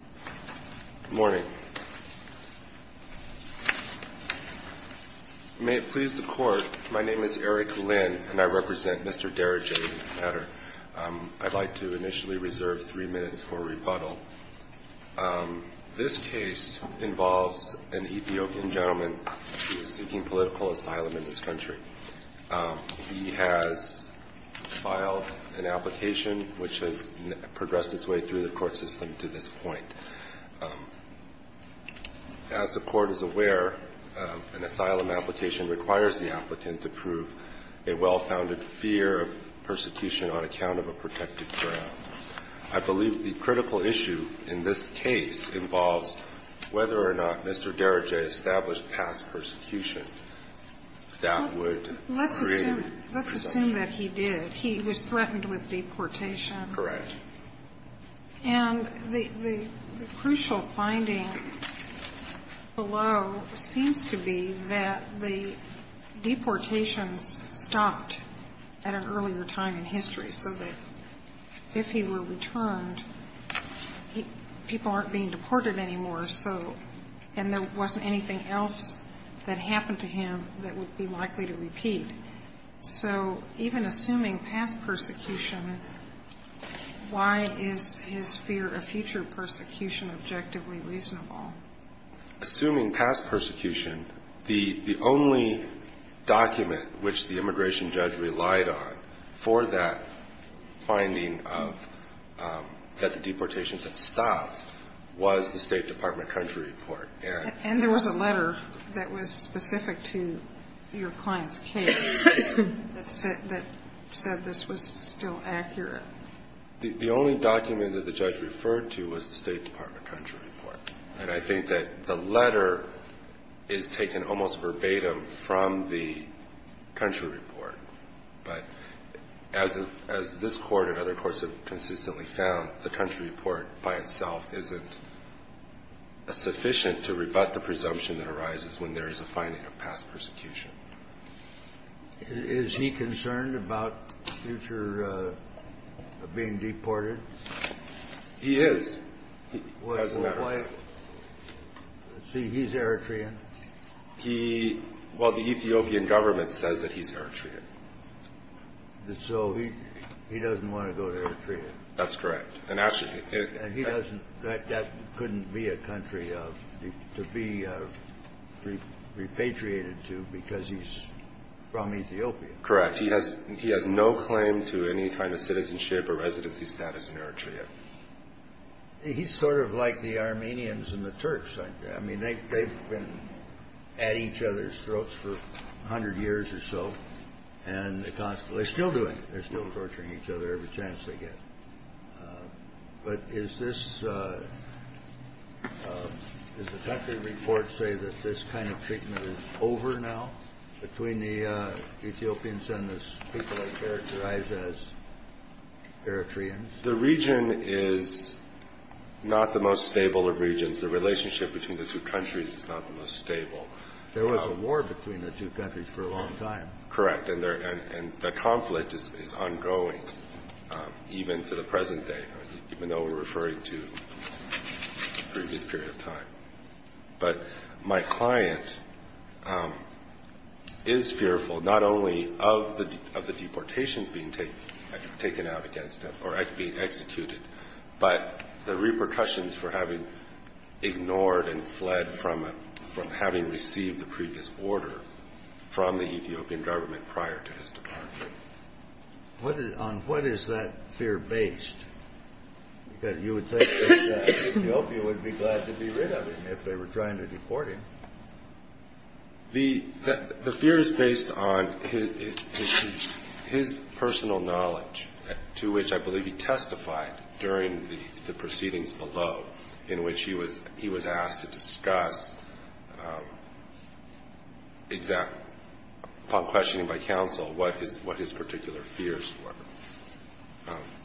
Good morning. May it please the Court, my name is Eric Lynn and I represent Mr. Dereje. I'd like to initially reserve three minutes for rebuttal. This case involves an Ethiopian gentleman who is seeking political asylum in this country. He has filed an application which has progressed its way through the court system to this point. As the Court is aware, an asylum application requires the applicant to prove a well-founded fear of persecution on account of a protected ground. I believe the critical issue in this case involves whether or not Mr. Dereje established past persecution. Let's assume that he did. He was threatened with deportation. Correct. And the crucial finding below seems to be that the deportations stopped at an earlier time in history. So that if he were returned, people aren't being deported anymore. And there wasn't anything else that happened to him that would be likely to repeat. So even assuming past persecution, why is his fear of future persecution objectively reasonable? Assuming past persecution, the only document which the immigration judge relied on for that finding of that the deportations had stopped was the State Department country report. And there was a letter that was specific to your client's case that said this was still accurate. The only document that the judge referred to was the State Department country report. And I think that the letter is taken almost verbatim from the country report. But as this Court and other courts have consistently found, the country report by itself isn't sufficient to rebut the presumption that arises when there is a finding of past persecution. Is he concerned about future being deported? He is. Doesn't matter. Why? See, he's Eritrean. Well, the Ethiopian government says that he's Eritrean. So he doesn't want to go to Eritrea. That's correct. And he doesn't. That couldn't be a country to be repatriated to because he's from Ethiopia. Correct. He has no claim to any kind of citizenship or residency status in Eritrea. He's sort of like the Armenians and the Turks. I mean, they've been at each other's throats for 100 years or so. And they're still doing it. They're still torturing each other every chance they get. But does the country report say that this kind of treatment is over now between the Ethiopians and the people they characterize as Eritreans? The relationship between the two countries is not the most stable. There was a war between the two countries for a long time. Correct. And the conflict is ongoing even to the present day, even though we're referring to a previous period of time. But my client is fearful not only of the deportations being taken out against them or being executed, but the repercussions for having ignored and fled from having received the previous order from the Ethiopian government prior to his departure. On what is that fear based? Because you would think that Ethiopia would be glad to be rid of him if they were trying to deport him. The fear is based on his personal knowledge, to which I believe he testified during the proceedings below, in which he was asked to discuss upon questioning by counsel what his particular fears were.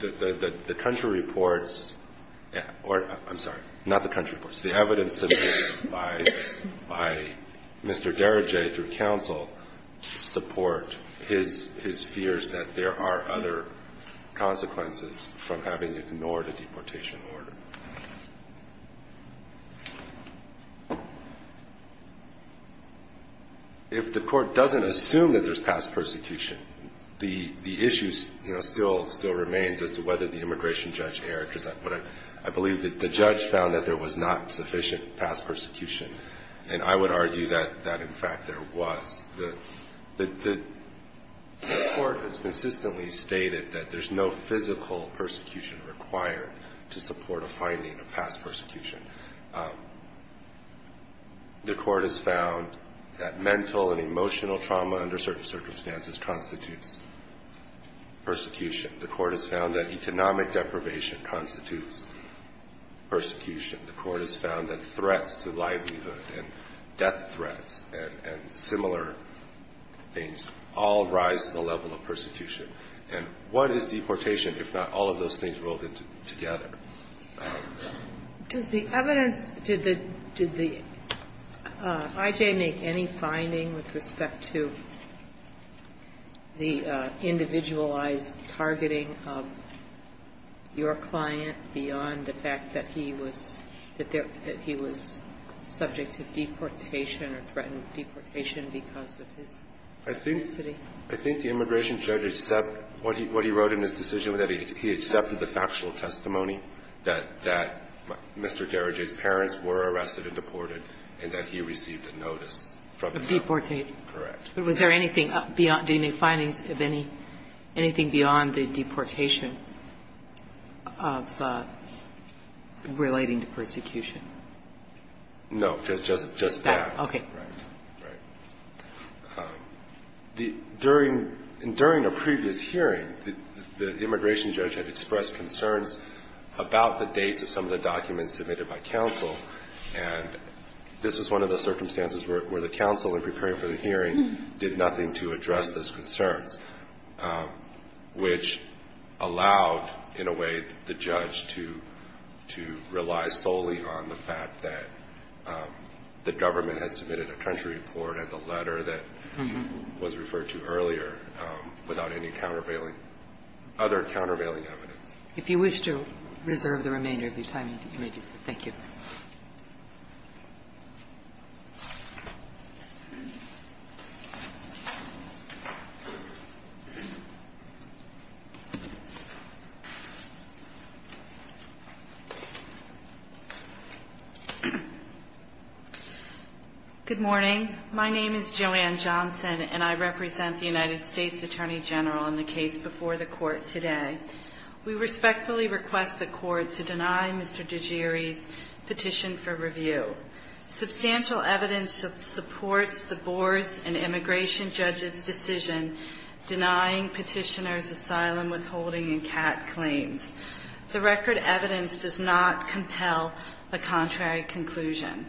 The country reports or, I'm sorry, not the country reports. The evidence submitted by Mr. Dereje through counsel support his fears that there are other consequences from having ignored a deportation order. If the court doesn't assume that there's past persecution, the issue still remains as to whether the immigration judge erred. Because I believe that the judge found that there was not sufficient past persecution. And I would argue that, in fact, there was. The court has consistently stated that there's no physical persecution required to support a finding of past persecution. The court has found that mental and emotional trauma under certain circumstances constitutes persecution. The court has found that economic deprivation constitutes persecution. The court has found that threats to livelihood and death threats and similar things all rise to the level of persecution. And what is deportation if not all of those things rolled together? Does the evidence to the IJ make any finding with respect to the individualized targeting of your client beyond the fact that he was, that he was subject to deportation or threatened with deportation because of his ethnicity? I think the immigration judge accepted what he wrote in his decision, that he accepted the factual testimony that Mr. Dereje's parents were arrested and deported and that he received a notice from the court. Of deportation. Correct. But was there anything beyond the findings of any, anything beyond the deportation of relating to persecution? No. Just that. Okay. Right. Right. During a previous hearing, the immigration judge had expressed concerns about the dates of some of the documents submitted by counsel. And this was one of the circumstances where the counsel, in preparing for the hearing, did nothing to address those concerns, which allowed, in a way, the judge to, to rely solely on the fact that the government had submitted a country report and the letter that was referred to earlier without any countervailing, other countervailing evidence. If you wish to reserve the remainder of your time, you may do so. Thank you. Thank you. Good morning. My name is Joanne Johnson and I represent the United States Attorney General in the case before the court today. We respectfully request the court to deny Mr. DeGieri's petition for review. Substantial evidence supports the board's and immigration judge's decision denying petitioner's asylum withholding and CAT claims. The record evidence does not compel a contrary conclusion.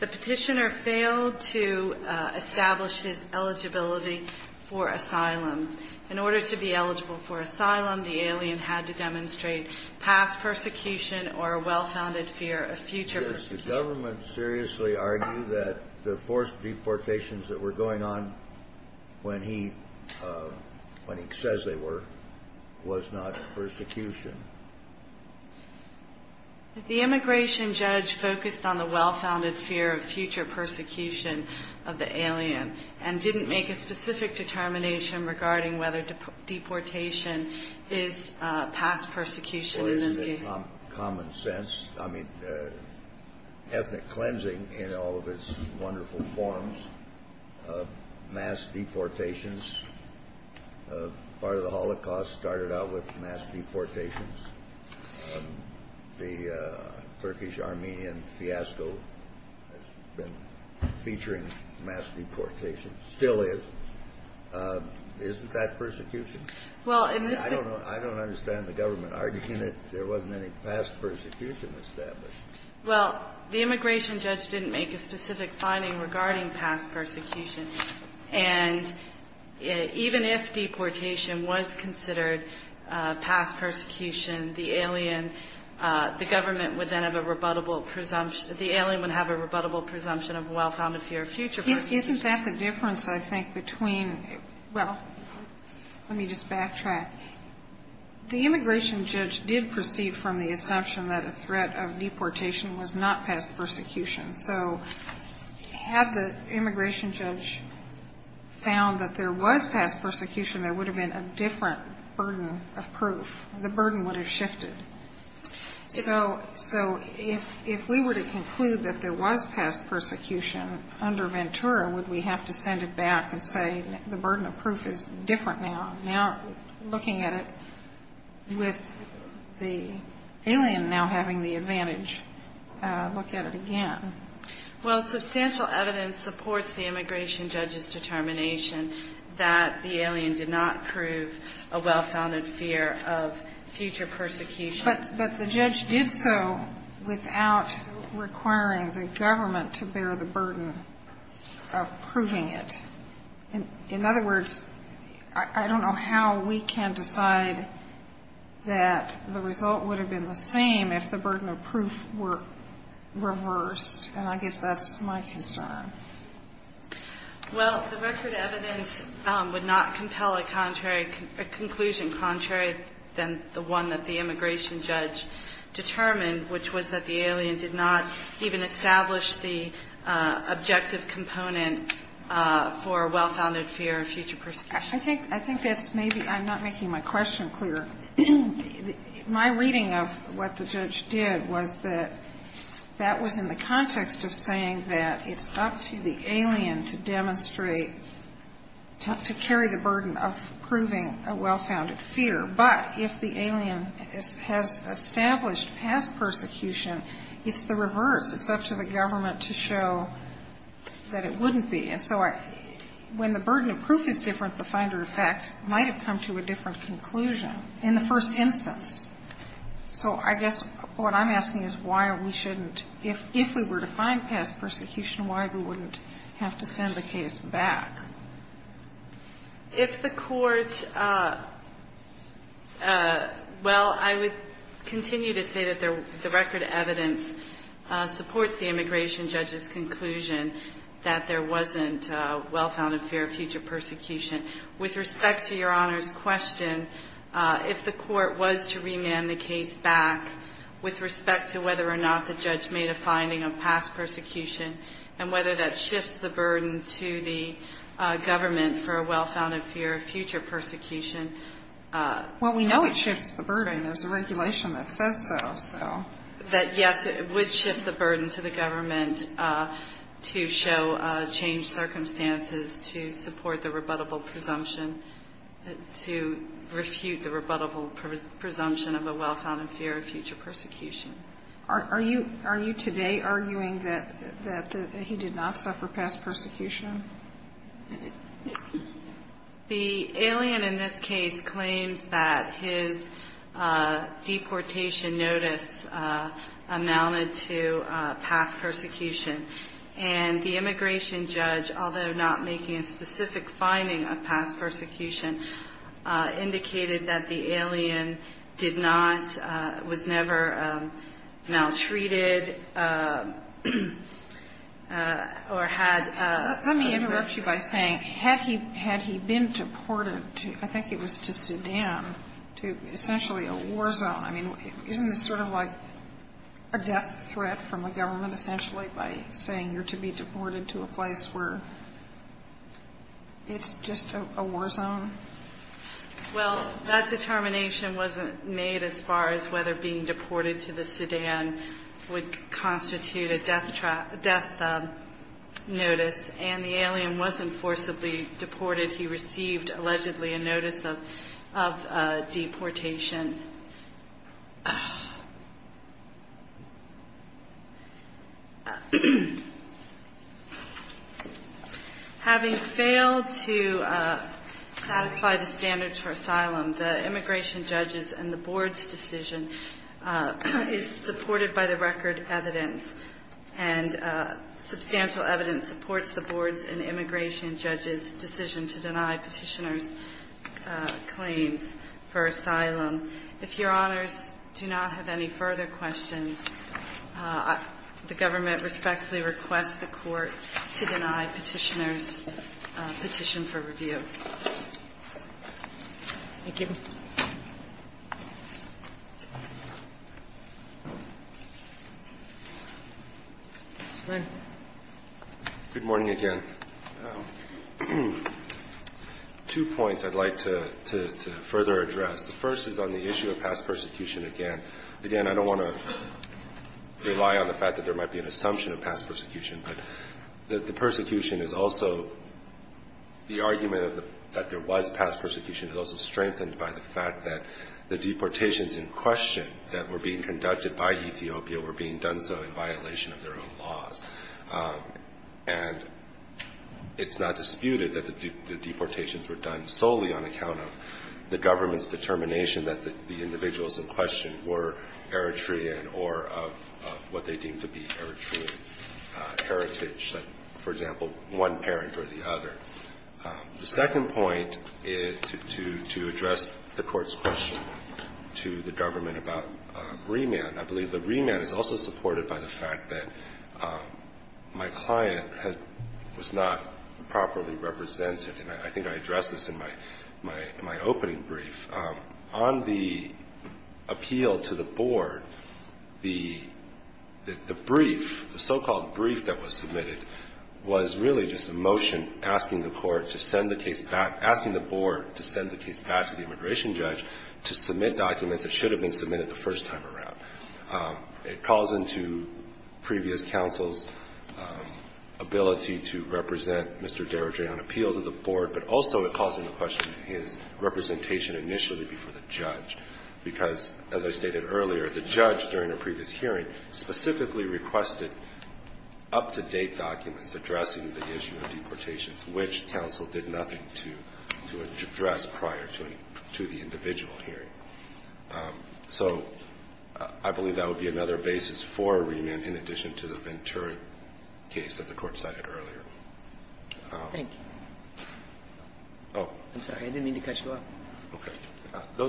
The petitioner failed to establish his eligibility for asylum. In order to be eligible for asylum, the alien had to demonstrate past persecution or a well-founded fear of future persecution. Did the government seriously argue that the forced deportations that were going on when he, when he says they were, was not persecution? The immigration judge focused on the well-founded fear of future persecution of the alien and didn't make a specific determination regarding whether deportation is past persecution in this case. Common sense. I mean, ethnic cleansing in all of its wonderful forms. Mass deportations. Part of the Holocaust started out with mass deportations. The Turkish-Armenian fiasco has been featuring mass deportations. Still is. Isn't that persecution? Well, in this case. I don't know. I don't understand the government arguing that there wasn't any past persecution established. Well, the immigration judge didn't make a specific finding regarding past persecution. And even if deportation was considered past persecution, the alien, the government would then have a rebuttable presumption of well-founded fear of future persecution. Isn't that the difference, I think, between, well, let me just backtrack. The immigration judge did proceed from the assumption that a threat of deportation was not past persecution. So had the immigration judge found that there was past persecution, there would have been a different burden of proof. The burden would have shifted. So if we were to conclude that there was past persecution under Ventura, would we have to send it back and say the burden of proof is different now? Looking at it with the alien now having the advantage, look at it again. Well, substantial evidence supports the immigration judge's determination that the alien did not prove a well-founded fear of future persecution. But the judge did so without requiring the government to bear the burden of proving it. In other words, I don't know how we can decide that the result would have been the same if the burden of proof were reversed. And I guess that's my concern. Well, the record evidence would not compel a contrary conclusion, contrary than the one that the immigration judge determined, which was that the alien did not even establish the objective component for a well-founded fear of future persecution. I think that's maybe I'm not making my question clear. My reading of what the judge did was that that was in the context of saying that it's up to the alien to demonstrate, to carry the burden of proving a well-founded fear. But if the alien has established past persecution, it's the reverse. It's up to the government to show that it wouldn't be. And so when the burden of proof is different, the finder of fact might have come to a different conclusion in the first instance. So I guess what I'm asking is why we shouldn't, if we were to find past persecution, why we wouldn't have to send the case back. If the court, well, I would continue to say that the record evidence supports the immigration judge's conclusion that there wasn't a well-founded fear of future persecution. With respect to Your Honor's question, if the court was to remand the case back, with respect to whether or not the judge made a finding of past persecution and whether that shifts the burden to the government for a well-founded fear of future persecution. Well, we know it shifts the burden. There's a regulation that says so. That, yes, it would shift the burden to the government to show changed circumstances, to support the rebuttable presumption, to refute the rebuttable presumption of a well-founded fear of future persecution. Are you today arguing that he did not suffer past persecution? The alien in this case claims that his deportation notice amounted to past persecution. And the immigration judge, although not making a specific finding of past persecution, indicated that the alien did not, was never maltreated or had a. Let me interrupt you by saying, had he been deported to, I think it was to Sudan, to essentially a war zone. I mean, isn't this sort of like a death threat from the government, essentially, by saying you're to be deported to a place where it's just a war zone? Well, that determination wasn't made as far as whether being deported to the Sudan would constitute a death notice. And the alien wasn't forcibly deported. He received, allegedly, a notice of deportation. Having failed to satisfy the standards for asylum, the immigration judge's and the board's decision is supported by the record evidence. And substantial evidence supports the board's and immigration judge's decision to deny Petitioner's claims for asylum. If Your Honors do not have any further questions, the government respectfully requests the Court to deny Petitioner's petition for review. Thank you. Good morning again. Two points I'd like to further address. The first is on the issue of past persecution again. Again, I don't want to rely on the fact that there might be an assumption of past persecution, but the persecution is also the argument that there was past persecution is also strengthened by the fact that the deportations in question that were being conducted by Ethiopia were being done so in violation of their own laws. And it's not disputed that the deportations were done solely on account of the government's determination that the individuals in question were Eritrean or of what they deemed to be Eritrean heritage, for example, one parent or the other. The second point is to address the Court's question to the government about remand. I believe the remand is also supported by the fact that my client was not properly represented. And I think I addressed this in my opening brief. On the appeal to the Board, the brief, the so-called brief that was submitted, was really just a motion asking the Court to send the case back, asking the Board to send the case back to the immigration judge to submit documents that should have been submitted the first time around. It calls into previous counsel's ability to represent Mr. Dereje on appeal to the Board, but also it calls into question his representation initially before the judge, because, as I stated earlier, the judge during the previous hearing specifically requested up-to-date documents addressing the issue of deportations, which counsel did nothing to address prior to the individual hearing. So I believe that would be another basis for remand in addition to the Ventura case that the Court cited earlier. Thank you. I'm sorry. I didn't mean to cut you off. Okay.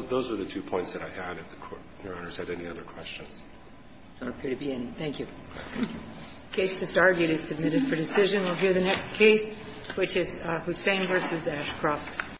Those were the two points that I had, if the Court, Your Honor, had any other questions. There don't appear to be any. Thank you. The case just argued is submitted for decision. We'll hear the next case, which is Hussain v. Ashcroft.